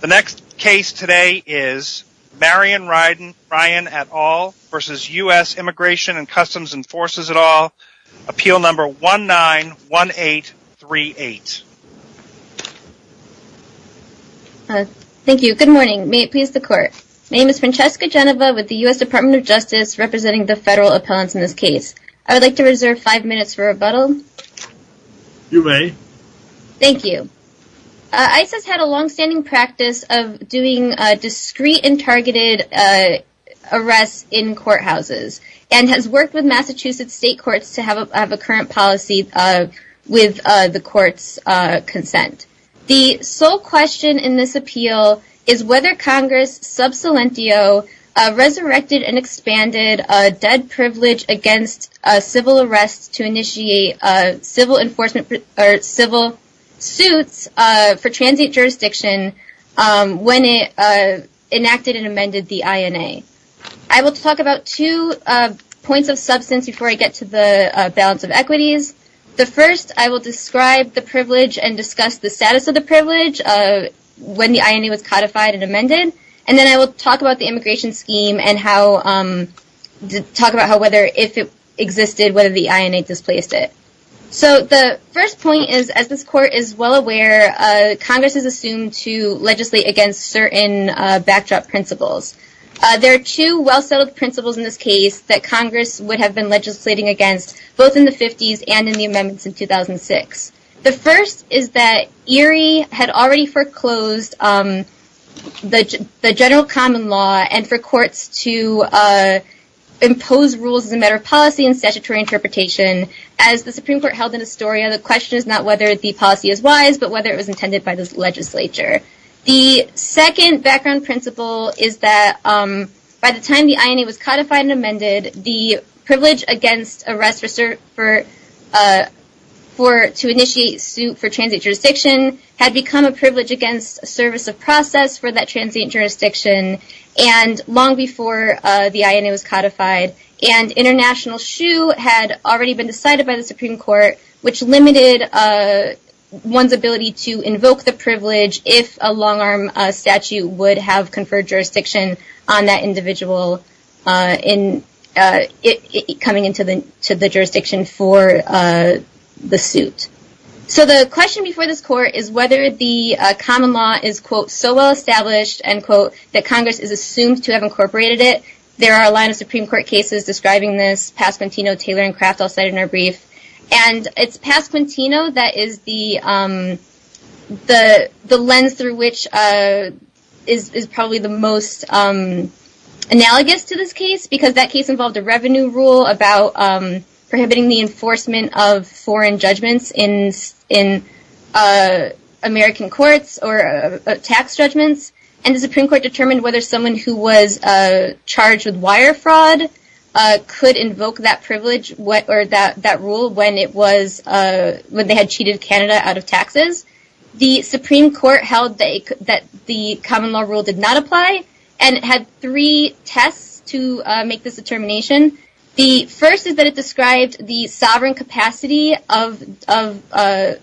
The next case today is Marion Ryan et al. versus U.S. Immigration and Customs Enforcers et al. Appeal number 191838. Thank you. Good morning. May it please the court. My name is Francesca Genova with the U.S. Department of Justice representing the federal appellants in this case. I would like to reserve five minutes for rebuttal. You may. Thank you. ICE has had a longstanding practice of doing discreet and targeted arrests in courthouses and has worked with Massachusetts state courts to have a current policy with the court's consent. The sole question in this appeal is whether Congress, sub salientio, resurrected and expanded a dead privilege against civil arrests to initiate civil suits for transient jurisdiction when it enacted and amended the INA. I will talk about two points of substance before I get to the balance of equities. The first, I will describe the privilege and discuss the status of the privilege when the INA was codified and amended. Then I will talk about the immigration scheme and talk about whether if it existed, whether the INA displaced it. The first point is, as this court is well aware, Congress is assumed to legislate against certain backdrop principles. There are two well-settled principles in this case that Congress would have been legislating against both in the 50s and in the amendments in 2006. The first is that Erie had already foreclosed the general common law and for courts to impose rules as a matter of policy and statutory interpretation. As the Supreme Court held in Astoria, the question is not whether the policy is wise but whether it was intended by the legislature. The second background principle is that by the time the INA was codified and amended, the privilege against arrest to initiate suit for transient jurisdiction had become a privilege against service of process for that transient jurisdiction and long before the INA was codified. International shoe had already been decided by the Supreme Court, which limited one's ability to invoke the privilege if a long-arm statute would have conferred jurisdiction on that individual coming into the jurisdiction for the suit. So the question before this court is whether the common law is, quote, so well established, end quote, that Congress is assumed to have incorporated it. There are a line of Supreme Court cases describing this, Pasquantino, Taylor, and Kraft all cited in our brief, and it's Pasquantino that is the lens through which is probably the most analogous to this case because that case involved a revenue rule about prohibiting the enforcement of foreign judgments in American courts or tax judgments, and the Supreme Court determined whether someone who was charged with wire fraud could invoke that privilege or that rule when they had cheated Canada out of taxes. The Supreme Court held that the common law rule did not apply, and it had three tests to make this determination. The first is that it described the sovereign capacity of the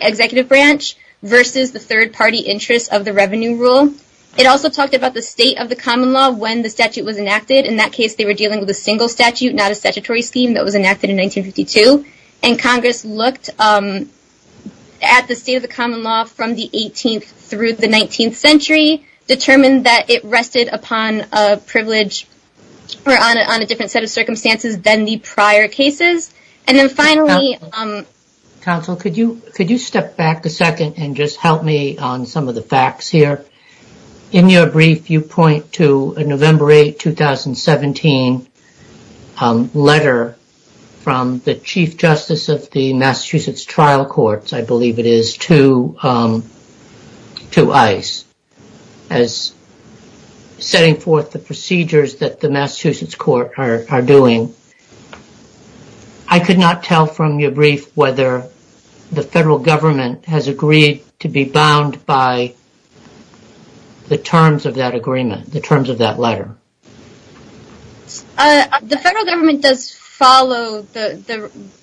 executive branch versus the third-party interest of the revenue rule. It also talked about the state of the common law when the statute was enacted. In that case, they were dealing with a single statute, not a statutory scheme that was enacted in 1952, and Congress looked at the state of the common law from the 18th through the 19th century, determined that it rested upon a privilege or on a different set of circumstances than the prior cases, and then finally... Counsel, could you step back a second and just help me on some of the facts here? In your brief, you point to a November 8, 2017 letter from the Chief Justice of the Massachusetts Trial Courts, I believe it is, to ICE as setting forth the procedures that the Massachusetts court are doing. I could not tell from your brief whether the federal government has agreed to be bound by the terms of that agreement, the terms of that letter. The federal government does follow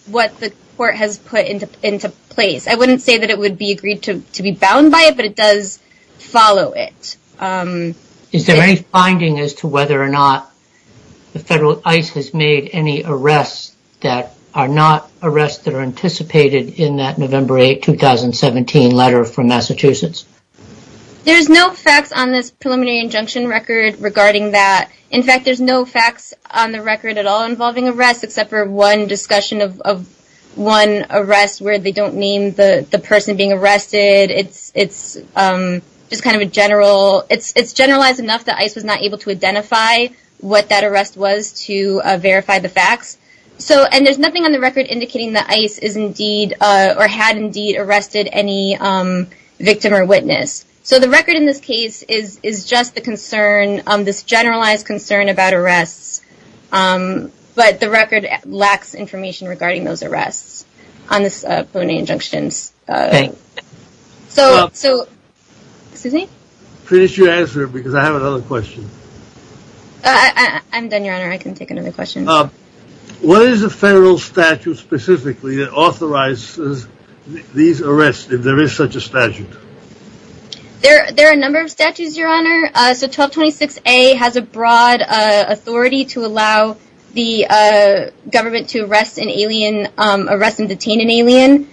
what the court has put into place. I wouldn't say that it would be agreed to be bound by it, but it does follow it. Is there any finding as to whether or not the federal ICE has made any arrests that are not arrests that are anticipated in that November 8, 2017 letter from Massachusetts? There's no facts on this preliminary injunction record regarding that. In fact, there's no facts on the record at all involving arrests except for one discussion of one arrest where they don't name the person being arrested. It's just kind of a general... It's generalized enough that ICE was not able to identify what that arrest was to verify the facts. There's nothing on the record indicating that ICE is indeed or had indeed arrested any victim or witness. The record in this case is just the concern, this generalized concern about arrests, but the record lacks information regarding those arrests on this preliminary injunctions. Okay. So... Excuse me? Finish your answer because I have another question. I'm done, Your Honor. I can take another question. What is the federal statute specifically that authorizes these arrests if there is such a statute? There are a number of statutes, Your Honor. So 1226A has a broad authority to allow the government to arrest an alien, arrest and detain an alien.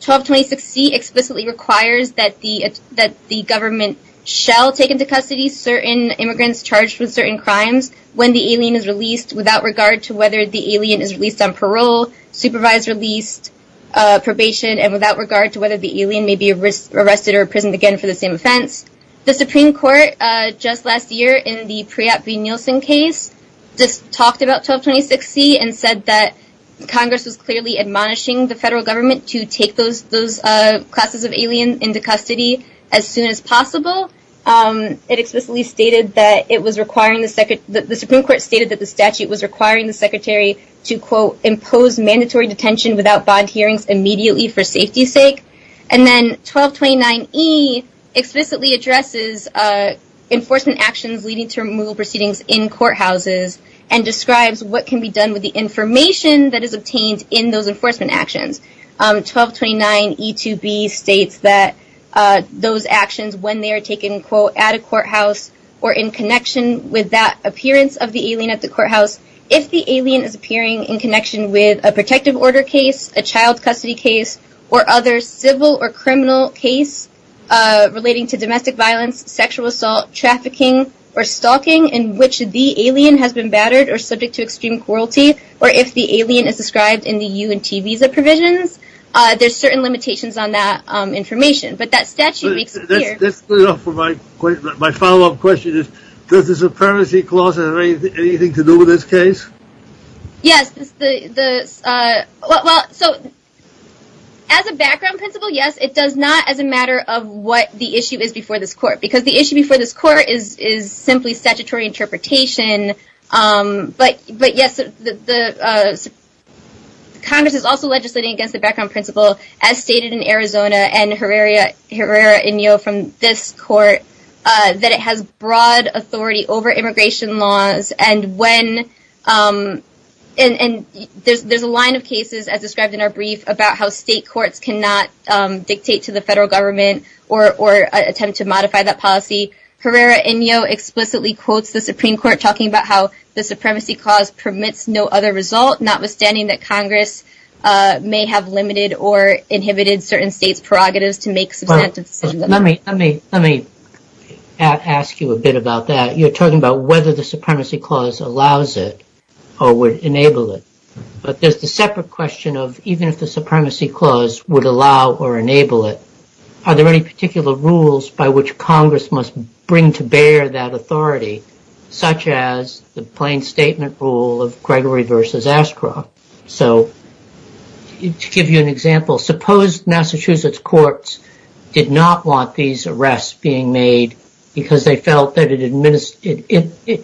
1226C explicitly requires that the government shall take into custody certain immigrants charged with certain crimes when the alien is released without regard to whether the alien is released on parole, supervised release, probation, and without regard to whether the alien may be arrested or imprisoned again for the same offense. The Supreme Court just last year in the Priyat v. Nielsen case just talked about 1226C and said that Congress was clearly admonishing the federal government to take those classes of alien into custody as soon as possible. It explicitly stated that it was requiring the... The Supreme Court stated that the statute was requiring the Secretary to, quote, impose mandatory detention without bond hearings immediately for safety's sake. And then 1229E explicitly addresses enforcement actions leading to removal proceedings in courthouses and describes what can be done with the information that is obtained in those enforcement actions. 1229E2B states that those actions when they are taken, quote, at a courthouse or in connection with that appearance of the alien at the courthouse, if the alien is appearing in connection with a protective order case, a child custody case, or other civil or criminal case relating to domestic violence, sexual assault, trafficking, or stalking in which the alien has been battered or subject to extreme cruelty, or if the alien is described in the U and T visa provisions, there's certain limitations on that information. But that statute makes it clear. That's good enough for my follow-up question is, does the Supremacy Clause have anything to do with this case? Yes. Well, so as a background principle, yes, it does not as a matter of what the issue is before this court. Because the issue before this court is simply statutory interpretation, but yes, Congress is also legislating against the background principle, as stated in Arizona and Herrera Inyo from this court, that it has broad authority over immigration laws. And when, and there's a line of cases as described in our brief about how state courts cannot dictate to the federal government or attempt to modify that policy. Herrera Inyo explicitly quotes the Supreme Court talking about how the Supremacy Clause permits no other result, notwithstanding that Congress may have limited or inhibited certain states' prerogatives to make substantive decisions. Let me, let me, let me ask you a bit about that. You're talking about whether the Supremacy Clause allows it or would enable it. But there's the separate question of even if the Supremacy Clause would allow or enable it, are there any particular rules by which Congress must bring to bear that authority, such as the plain statement rule of Gregory versus Ascroff? So to give you an example, suppose Massachusetts courts did not want these arrests being made because they felt that it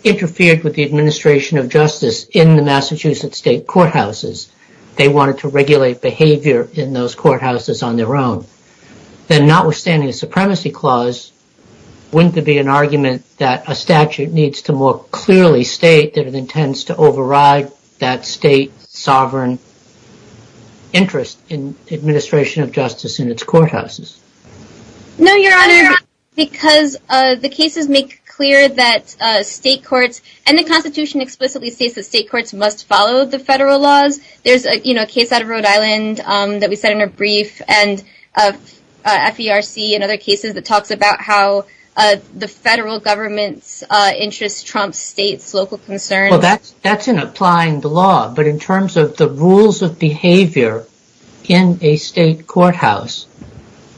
interfered with the administration of justice in the Massachusetts state courthouses. They wanted to regulate behavior in those courthouses on their own. Then notwithstanding the Supremacy Clause, wouldn't there be an argument that a statute needs to more clearly state that it intends to override that state sovereign interest in administration of justice in its courthouses? No, Your Honor, because the cases make clear that state courts and the Constitution explicitly states that state courts must follow the federal laws. There's a case out of Rhode Island that we said in a brief, and FERC and other cases that talks about how the federal government's interest trumps states' local concerns. That's in applying the law, but in terms of the rules of behavior in a state courthouse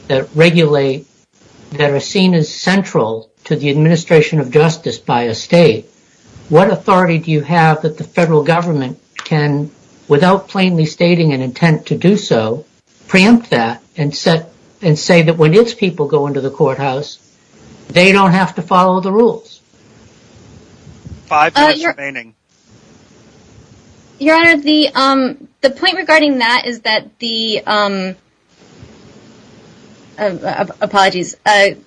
that regulate, that are seen as central to the administration of justice by a state, what authority do you have that the federal government can, without plainly stating an intent to do so, preempt that and say that when its people go into the courthouse, they don't have to follow the rules? Five minutes remaining. Your Honor, the point regarding that is that the... Apologies. Can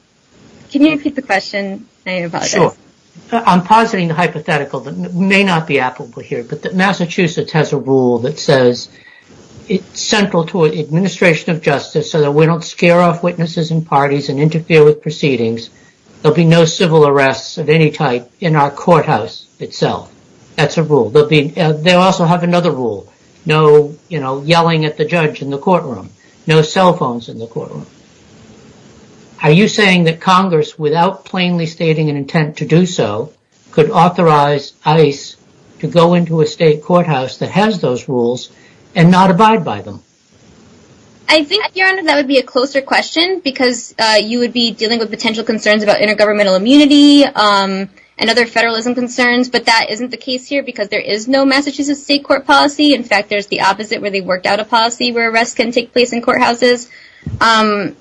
you repeat the question? I apologize. Sure. I'm positing a hypothetical that may not be applicable here, but that Massachusetts has a rule that says it's central to administration of justice so that we don't scare off witnesses and parties and interfere with proceedings. There'll be no civil arrests of any type in our courthouse itself. That's a rule. They'll also have another rule. No yelling at the judge in the courtroom. No cell phones in the courtroom. Are you saying that Congress, without plainly stating an intent to do so, could authorize ICE to go into a state courthouse that has those rules and not abide by them? I think, Your Honor, that would be a closer question because you would be dealing with potential concerns about intergovernmental immunity and other federalism concerns, but that isn't the case here because there is no Massachusetts state court policy. In fact, there's the opposite where they worked out a policy where arrests can take place in courthouses. Because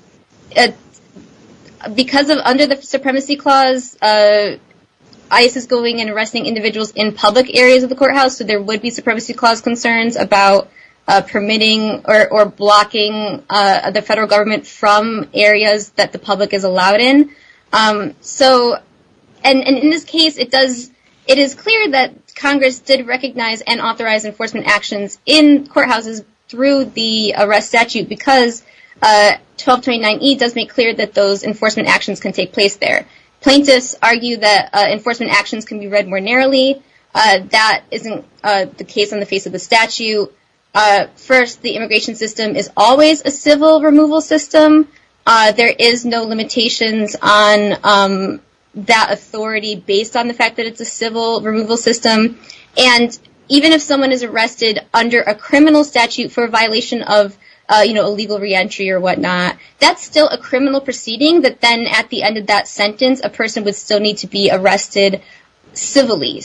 under the Supremacy Clause, ICE is going and arresting individuals in public areas of the courthouse, so there would be Supremacy Clause concerns about permitting or blocking the federal government from areas that the public is allowed in. In this case, it is clear that Congress did recognize and authorize enforcement actions in courthouses through the arrest statute because 1229E does make clear that those enforcement actions can take place there. Plaintiffs argue that enforcement actions can be read more narrowly. That isn't the case on the face of the statute. First, the immigration system is always a civil removal system. There is no limitations on that authority based on the fact that it's a civil removal system. Even if someone is arrested under a criminal statute for a violation of illegal reentry or whatnot, that's still a criminal proceeding, but then at the end of that sentence, a person would still need to be arrested civilly.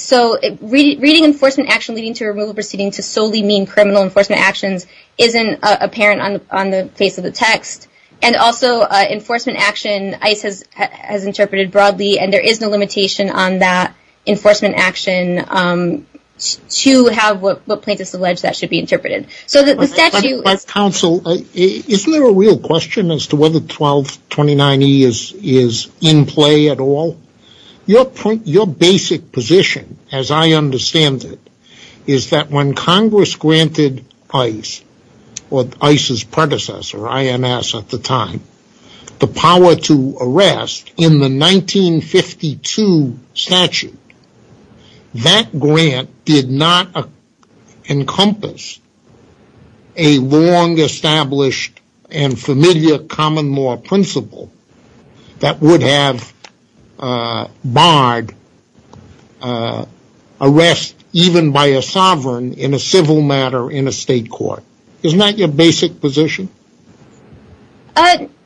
Reading enforcement action leading to a removal proceeding to solely mean criminal enforcement actions isn't apparent on the face of the text. Also, enforcement action, ICE has interpreted broadly, and there is no limitation on that legislation to have what plaintiffs allege that should be interpreted. So the statute... But counsel, isn't there a real question as to whether 1229E is in play at all? Your basic position, as I understand it, is that when Congress granted ICE, or ICE's predecessor, INS at the time, the power to arrest in the 1952 statute, that grant did not encompass a long-established and familiar common law principle that would have barred arrest even by a sovereign in a civil matter in a state court. Isn't that your basic position?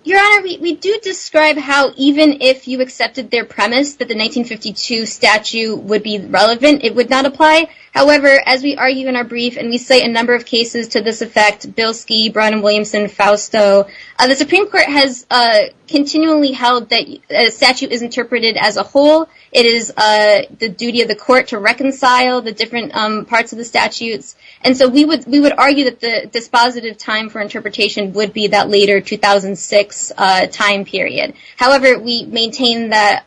Your Honor, we do describe how even if you accepted their premise that the 1952 statute would be relevant, it would not apply. However, as we argue in our brief, and we say a number of cases to this effect, Bilski, Brown and Williamson, Fausto, the Supreme Court has continually held that a statute is interpreted as a whole. It is the duty of the court to reconcile the different parts of the statutes. And so we would argue that the dispositive time for interpretation would be that later 2006 time period. However, we maintain that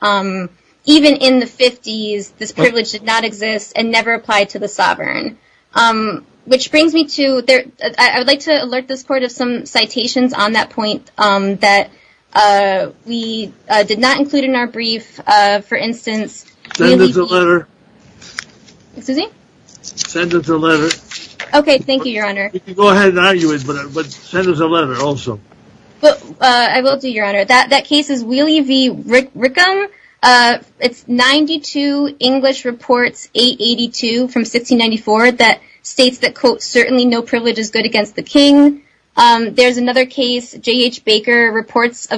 even in the 50s, this privilege did not exist and never applied to the sovereign. Which brings me to... I would like to alert this Court of some citations on that point that we did not include in our brief. For instance... Send us a letter. Excuse me? Send us a letter. Okay. Thank you, Your Honor. You can go ahead and argue it, but send us a letter also. I will do, Your Honor. That case is Wheelie v. Rickham. It's 92 English Reports 882 from 1694 that states that, quote, certainly no privilege is good against the king. There's another case, J.H. Baker Reports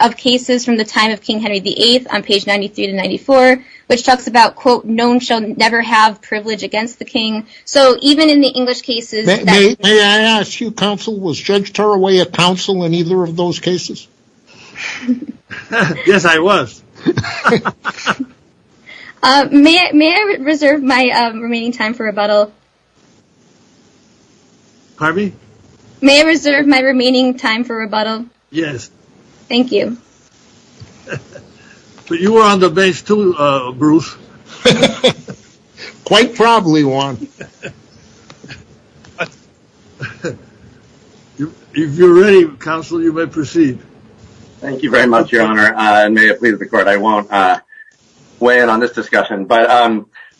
of Cases from the Time of King Henry VIII on page 93 to 94, which talks about, quote, no one shall never have privilege against the king. So even in the English cases... May I ask you, counsel, was Judge Tarraway a counsel in either of those cases? Yes, I was. May I reserve my remaining time for rebuttal? Pardon me? May I reserve my remaining time for rebuttal? Yes. Thank you. But you were on the base, too, Bruce. Quite probably, Juan. If you're ready, counsel, you may proceed. Thank you very much, Your Honor. And may it please the court, I won't weigh in on this discussion, but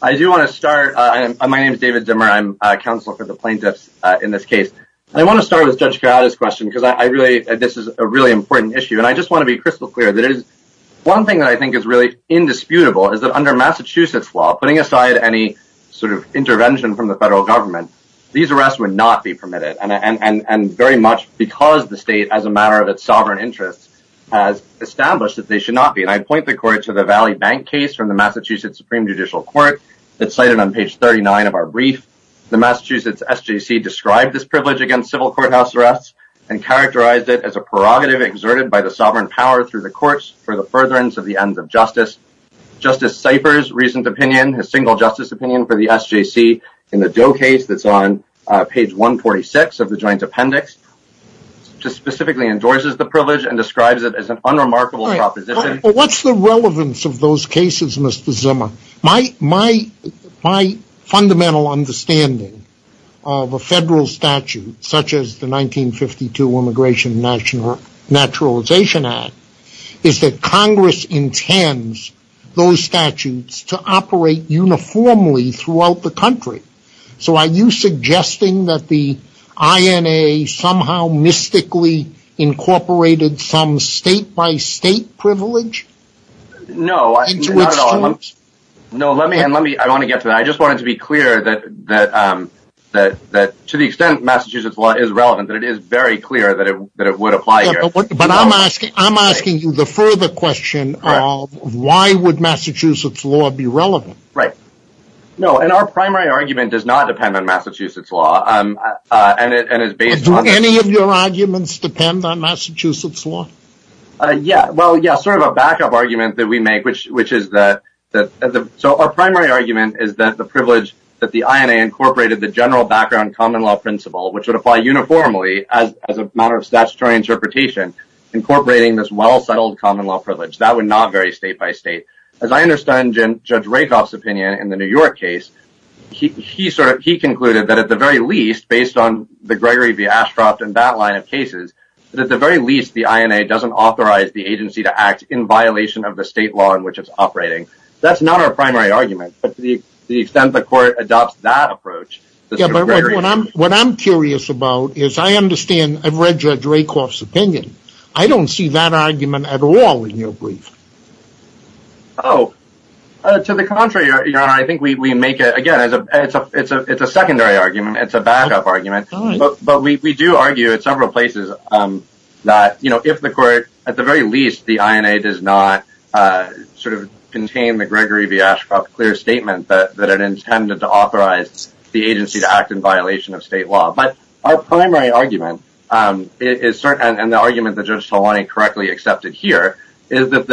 I do want to start. My name is David Zimmer. I'm a counsel for the plaintiffs in this case. And I want to start with Judge Corrado's question, because this is a really important issue. And I just want to be crystal clear that it is... One thing that I think is really indisputable is that under Massachusetts law, putting aside any sort of intervention from the federal government, these arrests would not be permitted. And very much because the state, as a matter of its sovereign interests, has established that they should not be. And I point the court to the Valley Bank case from the Massachusetts Supreme Judicial Court that's cited on page 39 of our brief. The Massachusetts SJC described this privilege against civil courthouse arrests and characterized it as a prerogative exerted by the sovereign power through the courts for the furtherance of the ends of justice. Justice Cipher's recent opinion, his single justice opinion for the SJC in the Doe case that's on page 146 of the joint appendix, just specifically endorses the privilege and describes it as an unremarkable proposition. What's the relevance of those cases, Mr. Zimmer? My fundamental understanding of a federal statute such as the 1952 Immigration and Naturalization Act is that Congress intends those statutes to operate uniformly throughout the country. So are you suggesting that the INA somehow mystically incorporated some state-by-state privilege? No, not at all. I want to get to that. I just wanted to be clear that, to the extent Massachusetts law is relevant, that it is very clear that it would apply here. But I'm asking you the further question of why would Massachusetts law be relevant? Right. No, and our primary argument does not depend on Massachusetts law and is based on... Do any of your arguments depend on Massachusetts law? Yeah. Well, yeah, sort of a backup argument that we make, which is that... So our primary argument is that the privilege that the INA incorporated the general background common law principle, which would apply uniformly as a matter of statutory interpretation, incorporating this well-settled common law privilege, that would not vary state-by-state. As I understand Judge Rakoff's opinion in the New York case, he concluded that at the very least, based on the Gregory v. Ashcroft and that line of cases, that at the very least, the INA doesn't authorize the agency to act in violation of the state law in which it's operating. That's not our primary argument, but to the extent the court adopts that approach, there's a greater... Yeah, but what I'm curious about is, I understand, I've read Judge Rakoff's opinion, I don't see that argument at all in your brief. Oh, to the contrary, Your Honor, I think we make it, again, it's a secondary argument, it's a backup argument. All right. But we do argue at several places that if the court, at the very least, the INA does not contain the Gregory v. Ashcroft clear statement that it intended to authorize the agency to act in violation of state law. But our primary argument, and the argument that Judge Talwani correctly accepted here, is that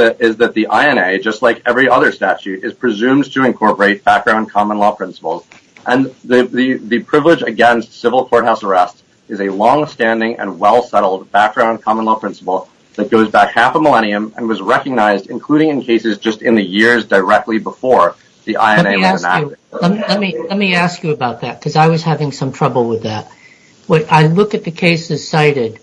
the INA, just like every other statute, is presumed to incorporate background common law principles. And the privilege against civil courthouse arrest is a long-standing and well-settled background common law principle that goes back half a millennium and was recognized, including in cases just in the years directly before the INA was enacted. Let me ask you about that, because I was having some trouble with that. When I look at the cases cited,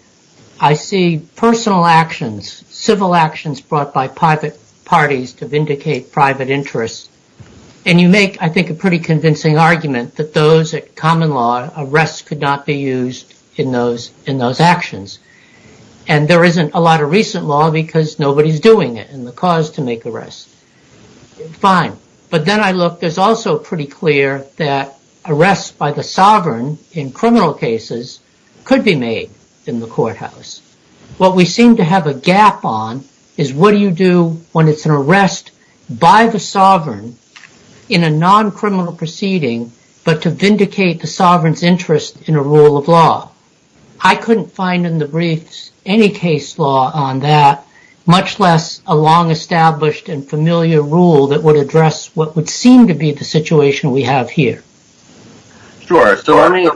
I see personal actions, civil actions brought by private parties to vindicate private interests, and you make, I think, a pretty convincing argument that those at common law, arrests could not be used in those actions. And there isn't a lot of recent law because nobody's doing it, and the cause to make arrests. Fine. But then I look, there's also pretty clear that arrests by the sovereign in criminal cases could be made in the courthouse. What we seem to have a gap on is, what do you do when it's an arrest by the sovereign in a non-criminal proceeding, but to vindicate the sovereign's interest in a rule of law? I couldn't find in the briefs any case law on that, much less a long-established and familiar rule that would address what would seem to be the situation we have here. Sure. So let me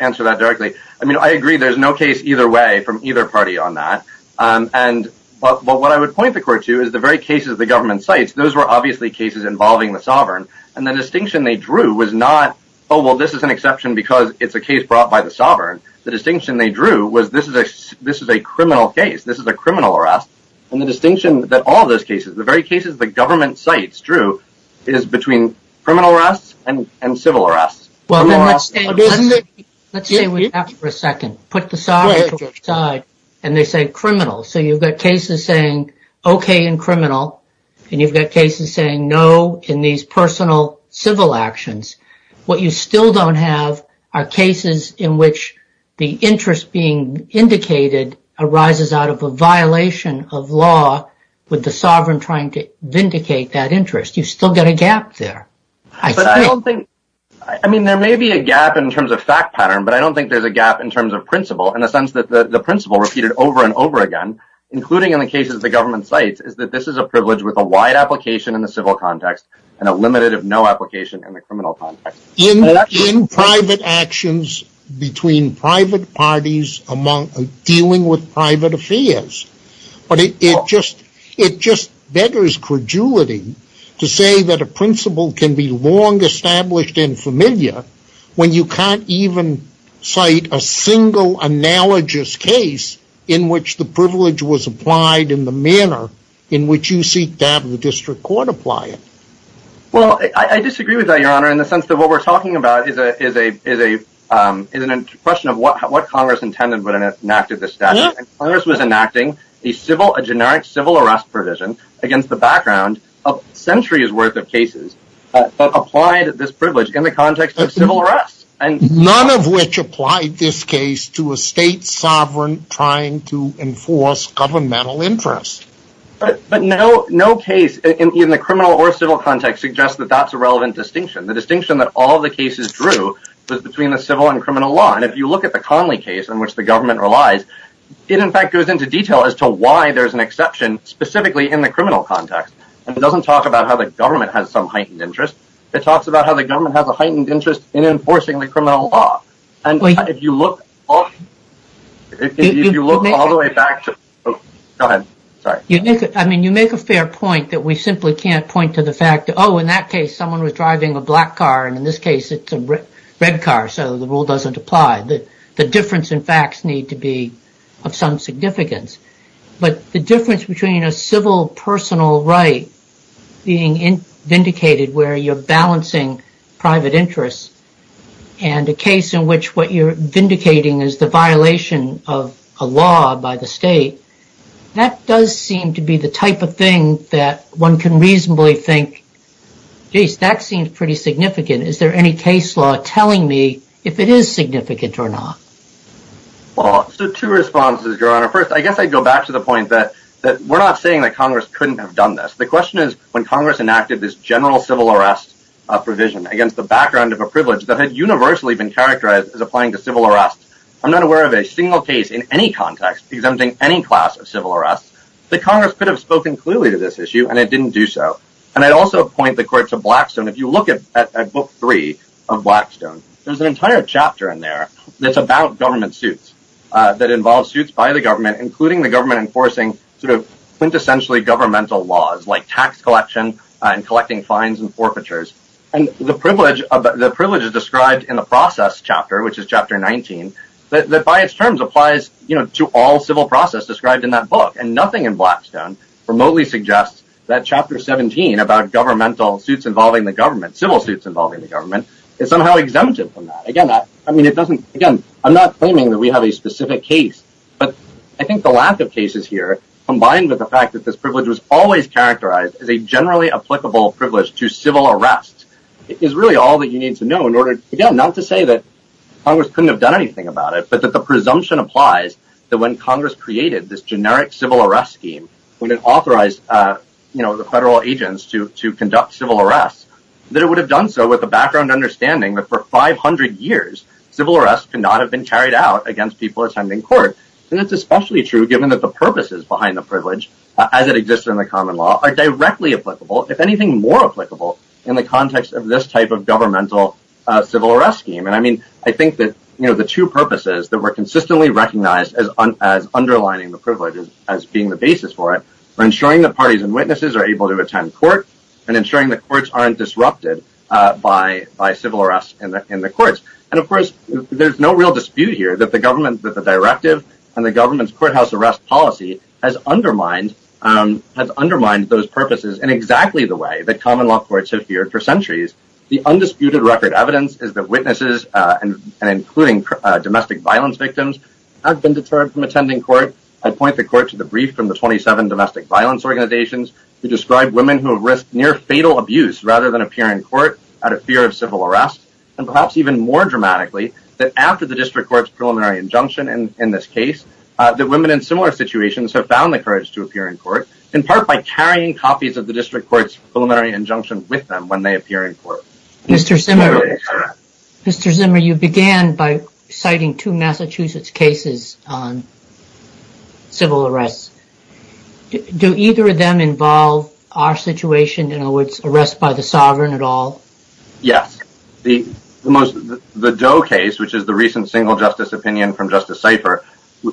answer that directly. I agree there's no case either way from either party on that. And what I would point the court to is the very cases the government cites, those were obviously cases involving the sovereign, and the distinction they drew was not, oh, well, this is an exception because it's a case brought by the sovereign. The distinction they drew was, this is a criminal case, this is a criminal arrest, and the distinction that all those cases, the very cases the government cites, Drew, is between criminal arrests and civil arrests. Well, then let's stay with that for a second. Put the sovereign to your side, and they say criminal. So you've got cases saying okay in criminal, and you've got cases saying no in these personal civil actions. What you still don't have are cases in which the interest being indicated arises out of a violation of law with the sovereign trying to vindicate that interest. You still got a gap there. But I don't think, I mean, there may be a gap in terms of fact pattern, but I don't think there's a gap in terms of principle in the sense that the principle repeated over and over again, including in the cases the government cites, is that this is a privilege with a wide application in the civil context, and a limited of no application in the criminal context. In private actions between private parties dealing with private affairs. But it just beggars credulity to say that a principle can be long established and familiar when you can't even cite a single analogous case in which the privilege was applied in the manner in which you seek to have the district court apply it. Well, I disagree with that, your honor, in the sense that what we're talking about is a question of what Congress intended when it enacted the statute. Congress was enacting a generic civil arrest provision against the background of centuries worth of cases, but applied this privilege in the context of civil arrest. None of which applied this case to a state sovereign trying to enforce governmental interest. But no case in the criminal or civil context suggests that that's a relevant distinction. The distinction that all the cases drew was between the civil and criminal law. And if you look at the Conley case in which the government relies, it in fact goes into detail as to why there's an exception specifically in the criminal context. And it doesn't talk about how the government has some heightened interest. It talks about how the government has a heightened interest in enforcing the criminal law. And if you look all the way back to the, oh, go ahead, sorry. I mean, you make a fair point that we simply can't point to the fact that, oh, in that case, someone was driving a black car and in this case, it's a red car. So the rule doesn't apply. The difference in facts need to be of some significance. But the difference between a civil personal right being vindicated where you're balancing private interests and a case in which what you're vindicating is the violation of a law by the state, that does seem to be the type of thing that one can reasonably think, geez, that seems pretty significant. Is there any case law telling me if it is significant or not? Well, so two responses, Your Honor. First, I guess I'd go back to the point that we're not saying that Congress couldn't have done this. The question is when Congress enacted this general civil arrest provision against the background of a privilege that had universally been characterized as applying to civil arrest. I'm not aware of a single case in any context exempting any class of civil arrest. The Congress could have spoken clearly to this issue and it didn't do so. And I'd also point the court to Blackstone. If you look at Book Three of Blackstone, there's an entire chapter in there that's about government suits that involve suits by the government, including the government enforcing sort of quintessentially governmental laws like tax collection and collecting fines and forfeitures. And the privilege is described in the process chapter, which is Chapter 19, that by its terms applies to all civil process described in that book. And nothing in Blackstone remotely suggests that Chapter 17 about governmental suits involving the government, civil suits involving the government, is somehow exempted from that. Again, I mean, it doesn't, again, I'm not claiming that we have a specific case, but I think the lack of cases here, combined with the fact that this privilege was always characterized as a generally applicable privilege to civil arrest, is really all that you need to know in order, again, not to say that Congress couldn't have done anything about it, but that the presumption applies that when Congress created this generic civil arrest scheme, when it authorized the federal agents to conduct civil arrests, that it would have done so with the background understanding that for 500 years, civil arrests could not have been carried out against people attending court. And that's especially true given that the purposes behind the privilege, as it exists in the common law, are directly applicable, if anything more applicable, in the context of this type of governmental civil arrest scheme. And I mean, I think that, you know, the two purposes that were consistently recognized as underlining the privileges as being the basis for it are ensuring that parties and witnesses are able to attend court and ensuring that courts aren't disrupted by civil arrests in the courts. And of course, there's no real dispute here that the government, that the directive and the government's courthouse arrest policy has undermined those purposes in exactly the way that common law courts have feared for centuries. The undisputed record evidence is that witnesses, and including domestic violence victims, have been deterred from attending court. I'd point the court to the brief from the 27 domestic violence organizations who describe women who have risked near-fatal abuse rather than appear in court out of fear of civil arrest. And perhaps even more dramatically, that after the district court's preliminary injunction in this case, that women in similar situations have found the courage to appear in court, in part by carrying copies of the district court's preliminary injunction with them when they appear in court. Mr. Zimmer, Mr. Zimmer, you began by citing two Massachusetts cases on civil arrests. Do either of them involve our situation, in other words, arrest by the sovereign at all? Yes. The Doe case, which is the recent single justice opinion from Justice Seifert,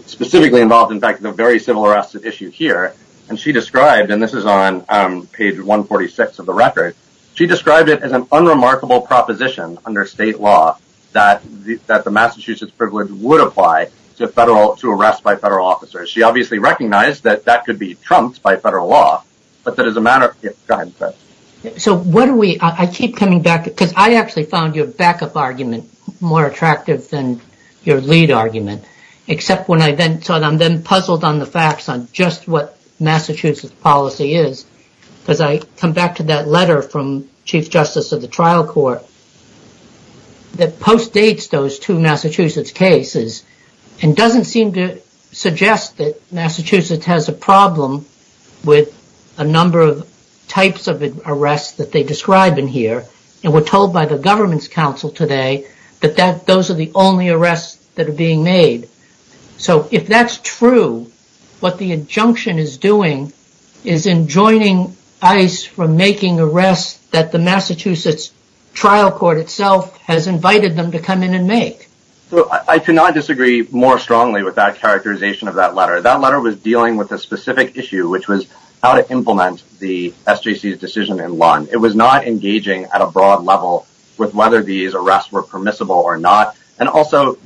specifically involved in fact the very civil arrest issue here, and she described, and this is on page 146 of the record, she described it as an unremarkable proposition under state law that the Massachusetts privilege would apply to arrest by federal officers. She obviously recognized that that could be trumped by federal law, but that as a matter of... Go ahead. So what do we... I keep coming back to... Because I actually found your backup argument more attractive than your lead argument, except when I then... So I'm then puzzled on the facts on just what Massachusetts policy is, because I come back to that letter from Chief Justice of the trial court that postdates those two Massachusetts cases and doesn't seem to suggest that Massachusetts has a problem with a number of types of arrests that they describe in here, and we're told by the government's counsel today that those are the only arrests that are being made. So if that's true, what the injunction is doing is enjoining ICE from making arrests that the Massachusetts trial court itself has invited them to come in and make. I cannot disagree more strongly with that characterization of that letter. That letter was dealing with a specific issue, which was how to implement the SJC's decision in Lund. It was not engaging at a broad level with whether these arrests were permissible or not. And also,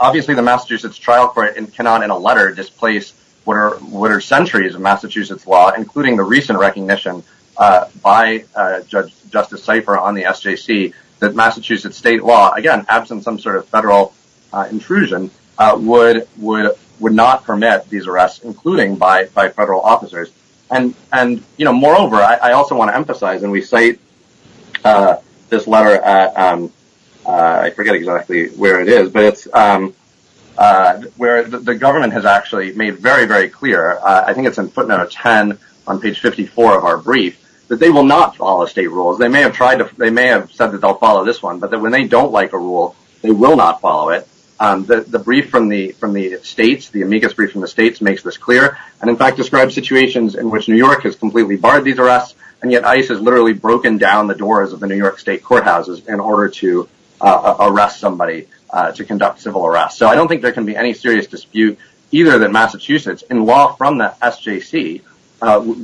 obviously the Massachusetts trial court cannot in a letter displace what are centuries of Massachusetts law, including the recent recognition by Justice Seifer on the SJC that Massachusetts state law, again, absent some sort of federal intrusion, would not permit these arrests, including by federal officers. And moreover, I also want to emphasize, and we cite this letter at, I forget exactly where it is, but it's where the government has actually made very, very clear, I think it's in footnote 10 on page 54 of our brief, that they will not follow state rules. They may have said that they'll follow this one, but when they don't like a rule, they will not follow it. The brief from the states, the amicus brief from the states makes this clear, and in fact describes situations in which New York has completely barred these arrests, and yet ICE has literally broken down the doors of the New York state courthouses in order to arrest somebody to conduct civil arrests. So I don't think there can be any serious dispute either that Massachusetts, in law from the SJC,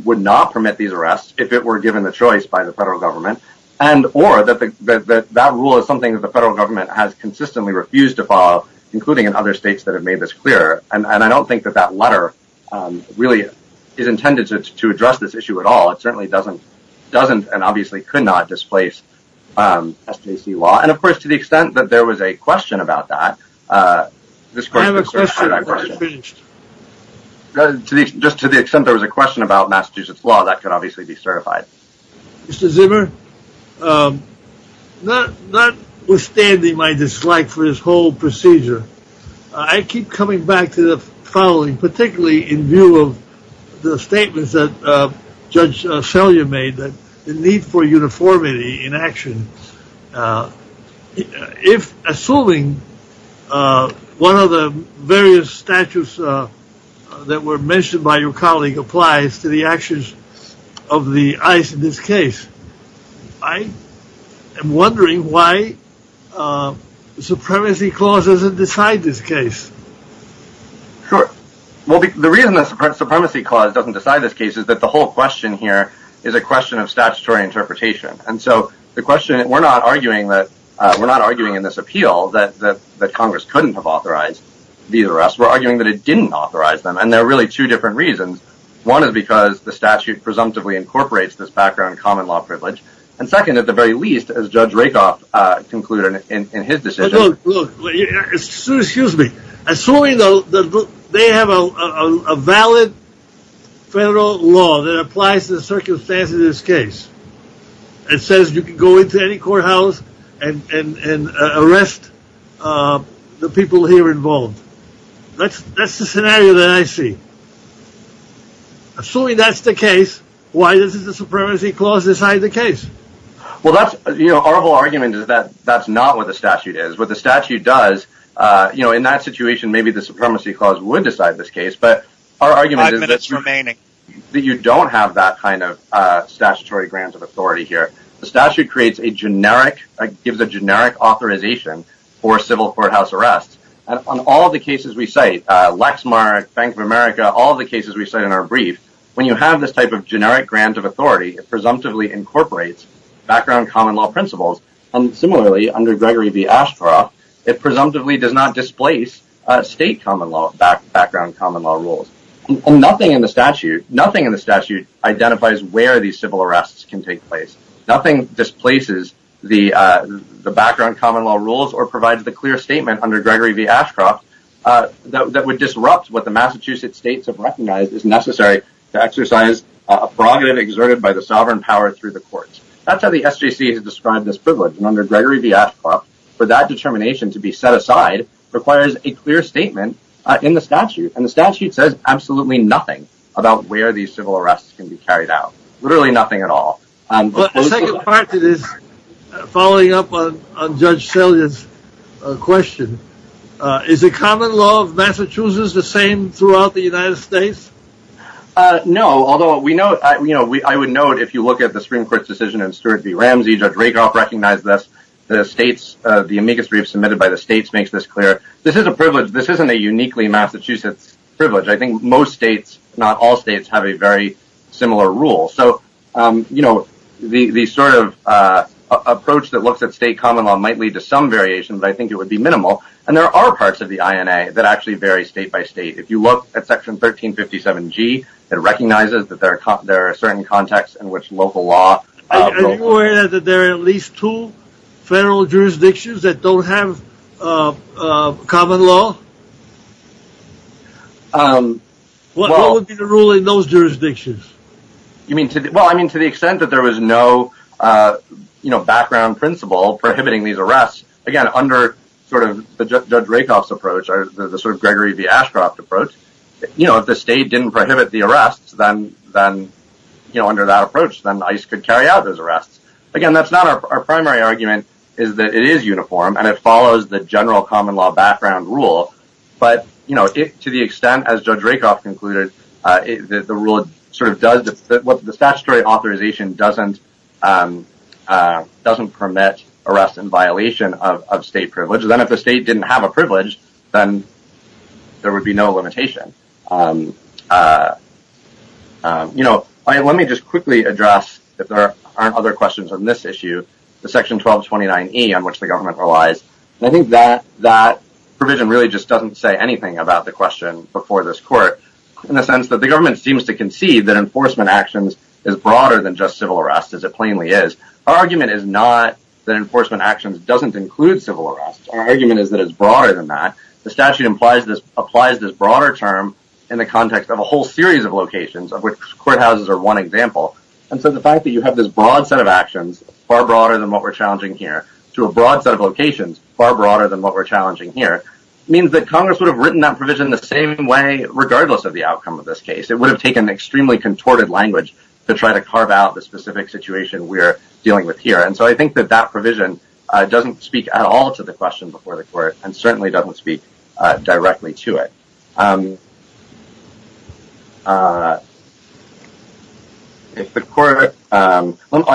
would not permit these arrests if it were given the choice by the federal government, and or that that rule is something that the federal government has consistently refused to follow, including in other states that have made this clear, and I don't think that that letter really is intended to address this issue at all. It certainly doesn't, and obviously could not, displace SJC law, and of course, to the extent there was a question about Massachusetts law, that could obviously be certified. Mr. Zimmer, notwithstanding my dislike for this whole procedure, I keep coming back to the following, particularly in view of the statements that Judge Selyer made, that the need for uniformity in action, if, assuming one of the various statutes that were mentioned by your colleague applies to the actions of the ICE in this case, I am wondering why the Supremacy Clause doesn't decide this case? Sure. Well, the reason the Supremacy Clause doesn't decide this case is that the whole question here is a question of statutory interpretation, and so the question, we're not arguing in this appeal that Congress couldn't have authorized these arrests, we're arguing that it didn't authorize them, and there are really two different reasons. One is because the statute presumptively incorporates this background common law privilege, and second, at the very least, as Judge Rakoff concluded in his decision... Well, that's, you know, our whole argument is that that's not what the statute is. What the statute does, you know, in that situation, maybe the Supremacy Clause would decide this kind of statutory grant of authority here. The statute creates a generic, gives a generic authorization for civil courthouse arrests, and on all the cases we cite, Lexmark, Bank of America, all the cases we cite in our brief, when you have this type of generic grant of authority, it presumptively incorporates background common law principles, and similarly, under Gregory v. Ashcroft, it presumptively does not displace state background common law rules, and nothing in the statute, nothing in the statute requires where these civil arrests can take place. Nothing displaces the background common law rules or provides the clear statement under Gregory v. Ashcroft that would disrupt what the Massachusetts states have recognized is necessary to exercise a prerogative exerted by the sovereign power through the courts. That's how the SJC has described this privilege, and under Gregory v. Ashcroft, for that determination to be set aside requires a clear statement in the statute, and the statute says absolutely nothing about where these civil arrests can be carried out. Literally nothing at all. But the second part to this, following up on Judge Salyer's question, is the common law of Massachusetts the same throughout the United States? No, although we know, you know, I would note if you look at the Supreme Court's decision in Stewart v. Ramsey, Judge Rakoff recognized this, the states, the amicus brief submitted by the states makes this clear, this is a privilege, this isn't a uniquely Massachusetts privilege. I think most states, not all states, have a very similar rule, so, you know, the sort of approach that looks at state common law might lead to some variation, but I think it would be minimal, and there are parts of the INA that actually vary state by state. If you look at section 1357G, it recognizes that there are certain contexts in which local law Are you aware that there are at least two federal jurisdictions that don't have common law? What would be the rule in those jurisdictions? Well, I mean, to the extent that there was no, you know, background principle prohibiting these arrests, again, under sort of Judge Rakoff's approach, or the sort of Gregory v. Ashcroft approach, you know, if the state didn't prohibit the arrests, then, you know, under that approach, then ICE could carry out those arrests. Again, that's not our primary argument, is that it is uniform, and it follows the general common law background rule, but, you know, to the extent, as Judge Rakoff concluded, the rule sort of does, the statutory authorization doesn't, doesn't permit arrests in violation of state privilege, then if the state didn't have a privilege, then there would be no limitation. You know, let me just quickly address, if there aren't other questions on this issue, the section 1229E on which the government relies, and I think that, that provision really just doesn't say anything about the question before this court, in the sense that the government seems to concede that enforcement actions is broader than just civil arrests, as it plainly is. Our argument is not that enforcement actions doesn't include civil arrests. Our argument is that it's broader than that. The statute implies this, applies this broader term in the context of a whole series of locations of which courthouses are one example, and so the fact that you have this broad set of locations far broader than what we're challenging here, to a broad set of locations far broader than what we're challenging here, means that Congress would have written that provision the same way, regardless of the outcome of this case. It would have taken extremely contorted language to try to carve out the specific situation we're dealing with here, and so I think that that provision doesn't speak at all to the question before the court, and certainly doesn't speak directly to it. I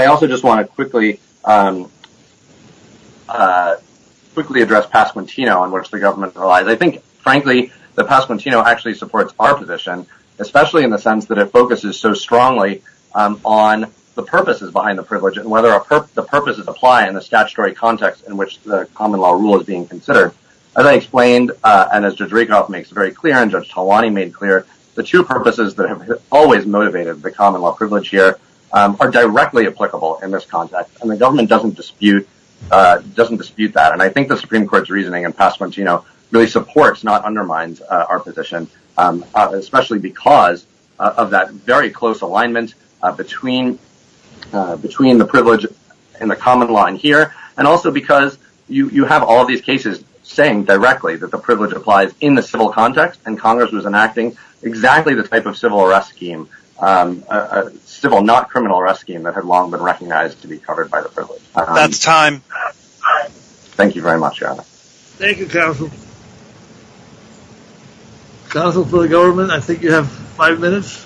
also just want to quickly address Pasquantino, on which the government relies. I think, frankly, that Pasquantino actually supports our position, especially in the sense that it focuses so strongly on the purposes behind the privilege, and whether the purposes apply in the statutory context in which the common law rule is being considered. As I explained, and as Judge Rakoff makes very clear, and Judge Talwani made clear, the two purposes that have always motivated the common law privilege here are directly applicable in this context, and the government doesn't dispute that, and I think the Supreme Court's reasoning in Pasquantino really supports, not undermines, our position, especially because of that very close alignment between the privilege and the common law in here, and also because you have all these cases saying directly that the privilege applies in the civil context, and Congress was enacting exactly the type of civil arrest scheme, civil not criminal arrest scheme, that had long been recognized to be covered by the privilege. That's time. Thank you very much, Your Honor. Thank you, counsel. Counsel for the government, I think you have five minutes.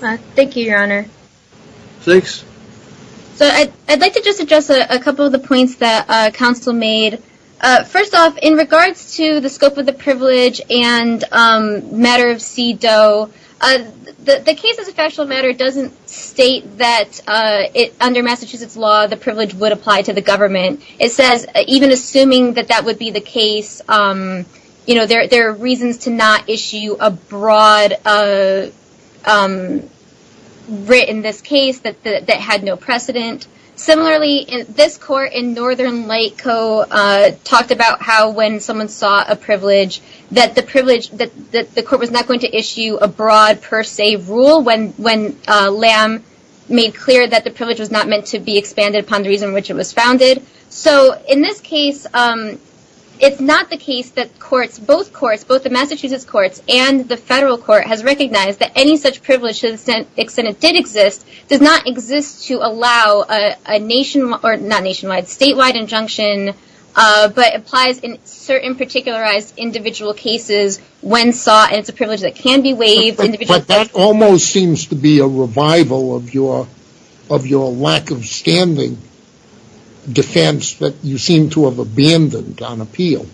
Thank you, Your Honor. Six. So I'd like to just address a couple of the points that counsel made. First off, in regards to the scope of the privilege and matter of CDOE, the case as a factual matter doesn't state that under Massachusetts law, the privilege would apply to the government. It says, even assuming that that would be the case, there are reasons to not issue a written this case that had no precedent. Similarly, this court in Northern Light Co. talked about how when someone saw a privilege, that the privilege, that the court was not going to issue a broad per se rule when Lamb made clear that the privilege was not meant to be expanded upon the reason which it was founded. So in this case, it's not the case that courts, both courts, both the Massachusetts courts and the federal court, has recognized that any such privilege to the extent it did exist does not exist to allow a nationwide, not nationwide, statewide injunction, but applies in certain particularized individual cases when sought, and it's a privilege that can be waived. But that almost seems to be a revival of your lack of standing defense that you seem to have abandoned on appeal.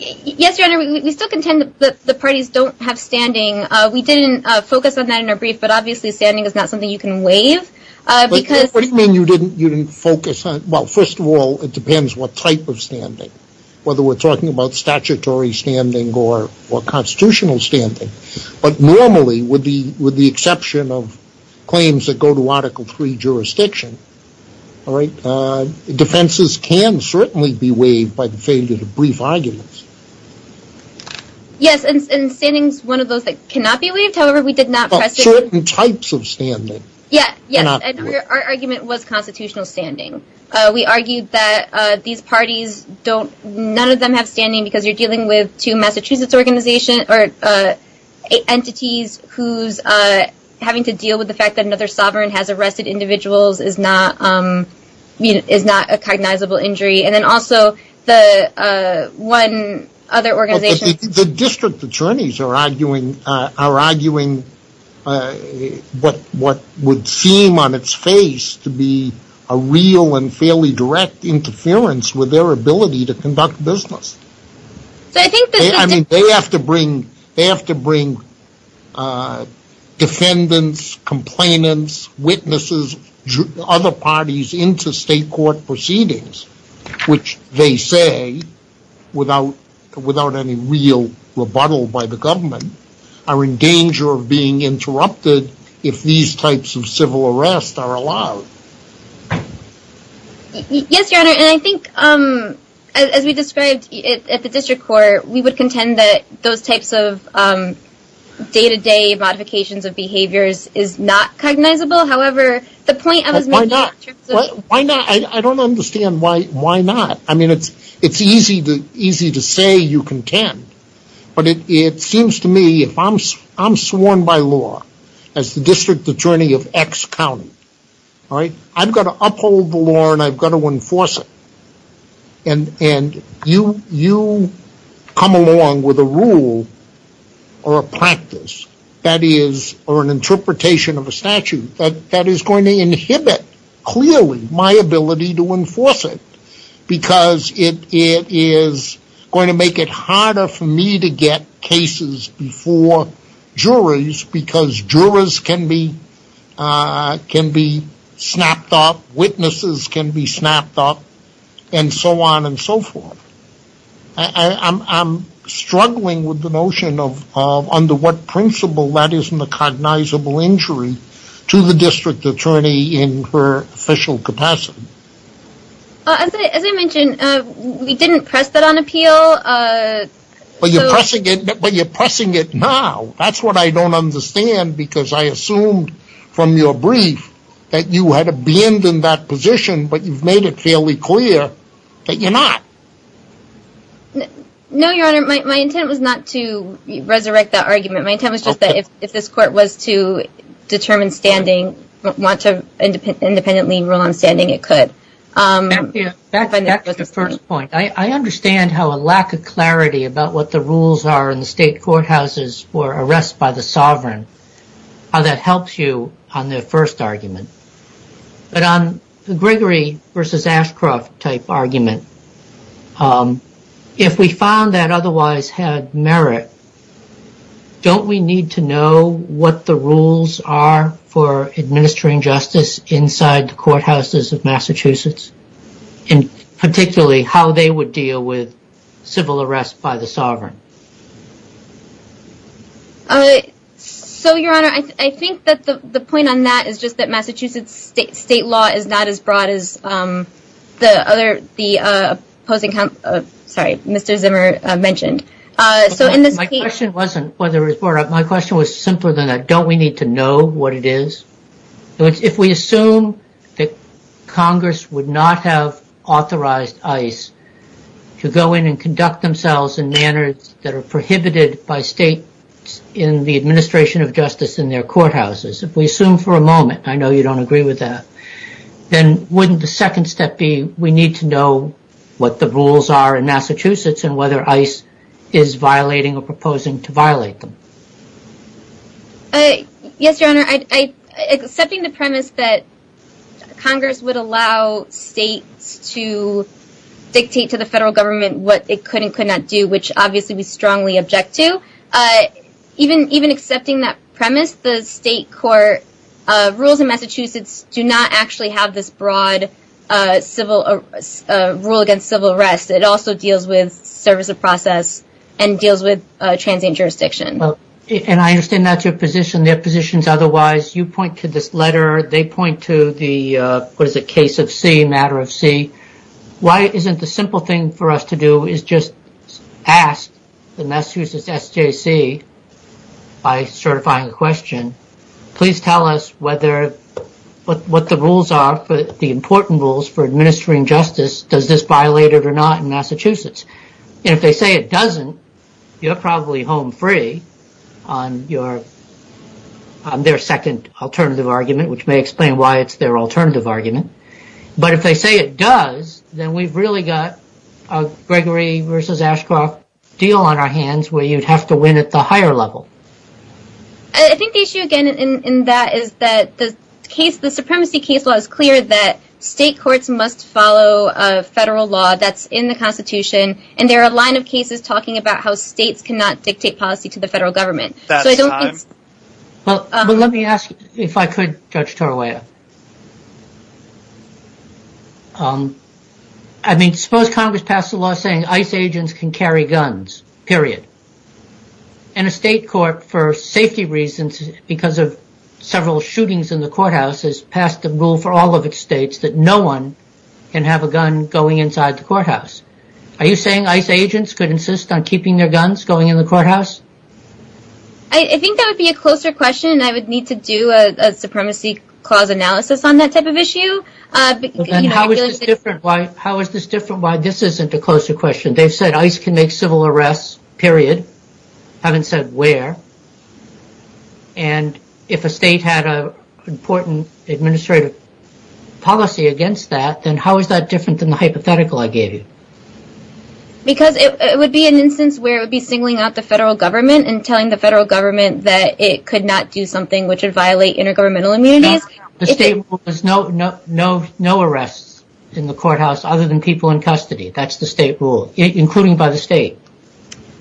Yes, Your Honor, we still contend that the parties don't have standing. We didn't focus on that in our brief, but obviously standing is not something you can waive. What do you mean you didn't focus on, well, first of all, it depends what type of standing, whether we're talking about statutory standing or constitutional standing. But normally, with the exception of claims that go to Article III jurisdiction, defenses can certainly be waived by the failure to brief arguments. Yes, and standing is one of those that cannot be waived, however, we did not press it. But certain types of standing cannot be waived. Yes, and our argument was constitutional standing. We argued that these parties don't, none of them have standing because you're dealing with two Massachusetts organizations, or entities who's having to deal with the fact that another and then also the one other organization. The district attorneys are arguing what would seem on its face to be a real and fairly direct interference with their ability to conduct business. So I think that they have to bring defendants, complainants, witnesses, other parties into state court proceedings, which they say, without any real rebuttal by the government, are in danger of being interrupted if these types of civil arrests are allowed. Yes, your honor, and I think, as we described at the district court, we would contend that those types of day-to-day modifications of behaviors is not cognizable, however, the I don't understand why not. I mean, it's easy to say you contend, but it seems to me if I'm sworn by law as the district attorney of X county, all right, I've got to uphold the law and I've got to enforce it, and you come along with a rule or a practice that is, or an interpretation of a statute that is going to inhibit clearly my ability to enforce it because it is going to make it harder for me to get cases before juries because jurors can be snapped up, witnesses can be snapped up, and so on and so forth. I'm struggling with the notion of under what principle that isn't a cognizable injury to the district attorney in her official capacity. As I mentioned, we didn't press that on appeal. But you're pressing it now. That's what I don't understand because I assumed from your brief that you had abandoned that position, but you've made it fairly clear that you're not. No, your honor, my intent was not to resurrect that argument. My intent was just that if this court was to determine standing, want to independently rule on standing, it could. Back to the first point, I understand how a lack of clarity about what the rules are in the state courthouses for arrests by the sovereign, how that helps you on the first argument. But on the Gregory versus Ashcroft type argument, if we found that otherwise had merit, don't we need to know what the rules are for administering justice inside the courthouses of Massachusetts and particularly how they would deal with civil arrests by the sovereign? So, your honor, I think that the point on that is just that Massachusetts state law is not as broad as the other, the opposing, sorry, Mr. Zimmer mentioned. So in this case, my question wasn't whether my question was simpler than that. Don't we need to know what it is? If we assume that Congress would not have authorized ICE to go in and conduct themselves in manners that are prohibited by state in the administration of justice in their courthouses, if we assume for a moment, I know you don't agree with that, then wouldn't the second step be we need to know what the rules are in Massachusetts and whether ICE is violating or proposing to violate them? Yes, your honor, accepting the premise that Congress would allow states to dictate to obviously we strongly object to, even accepting that premise, the state court rules in Massachusetts do not actually have this broad rule against civil arrest. It also deals with service of process and deals with transient jurisdiction. And I understand that's your position. Their position is otherwise. You point to this letter. They point to the, what is it, case of C, matter of C. Why isn't the simple thing for us to do is just ask the Massachusetts SJC, by certifying the question, please tell us what the rules are, the important rules for administering justice. Does this violate it or not in Massachusetts? And if they say it doesn't, you're probably home free on their second alternative argument, which may explain why it's their alternative argument. But if they say it does, then we've really got a Gregory versus Ashcroft deal on our hands where you'd have to win at the higher level. I think the issue, again, in that is that the case, the supremacy case law is clear that state courts must follow a federal law that's in the Constitution. And there are a line of cases talking about how states cannot dictate policy to the federal government. So I don't think. Well, but let me ask you if I could, Judge Torawaya. I mean, suppose Congress passed a law saying ICE agents can carry guns, period. And a state court, for safety reasons, because of several shootings in the courthouse, has passed a rule for all of its states that no one can have a gun going inside the courthouse. Are you saying ICE agents could insist on keeping their guns going in the courthouse? I think that would be a closer question. And I would need to do a supremacy clause analysis on that type of issue. But then how is this different? Why? How is this different? Why? This isn't a closer question. They've said ICE can make civil arrests, period, haven't said where. And if a state had a important administrative policy against that, then how is that different than the hypothetical I gave you? Because it would be an instance where it would be singling out the federal government and telling the federal government that it could not do something which would violate intergovernmental immunities. The state has no arrests in the courthouse other than people in custody. That's the state rule, including by the state.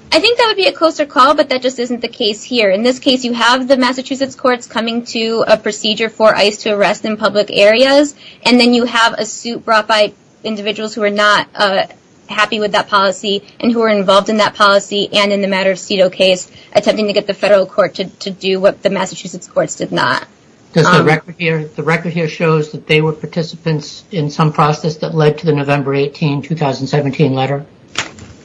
I think that would be a closer call, but that just isn't the case here. In this case, you have the Massachusetts courts coming to a procedure for ICE to arrest in happy with that policy and who are involved in that policy and in the matter of CEDAW case, attempting to get the federal court to do what the Massachusetts courts did not. The record here shows that they were participants in some process that led to the November 18, 2017 letter.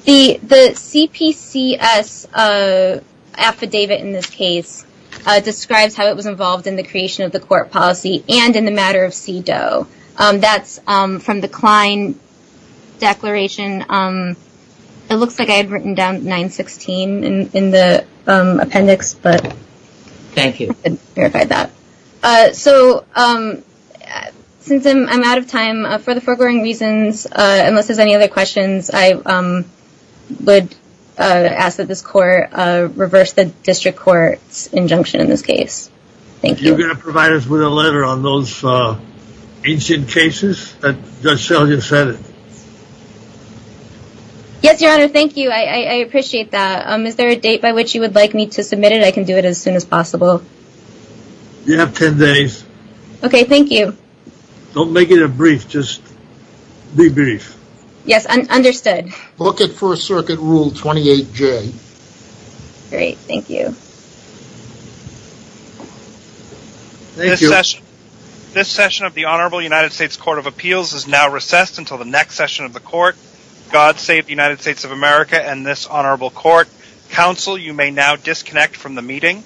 The CPCS affidavit in this case describes how it was involved in the creation of the court policy and in the matter of CEDAW. That's from the Klein declaration. It looks like I had written down 916 in the appendix, but I don't know if I verified that. Since I'm out of time, for the foregoing reasons, unless there's any other questions, I would ask that this court reverse the district court's injunction in this case. You're going to provide us with a letter on those ancient cases? Yes, your honor. Thank you. I appreciate that. Is there a date by which you would like me to submit it? I can do it as soon as possible. You have 10 days. Okay. Thank you. Don't make it a brief. Just be brief. Yes. Understood. Book it for a circuit rule 28J. Great. Thank you. Thank you. This session of the Honorable United States Court of Appeals is now recessed until the next session of the court. God save the United States of America and this honorable court. Counsel, you may now disconnect from the meeting.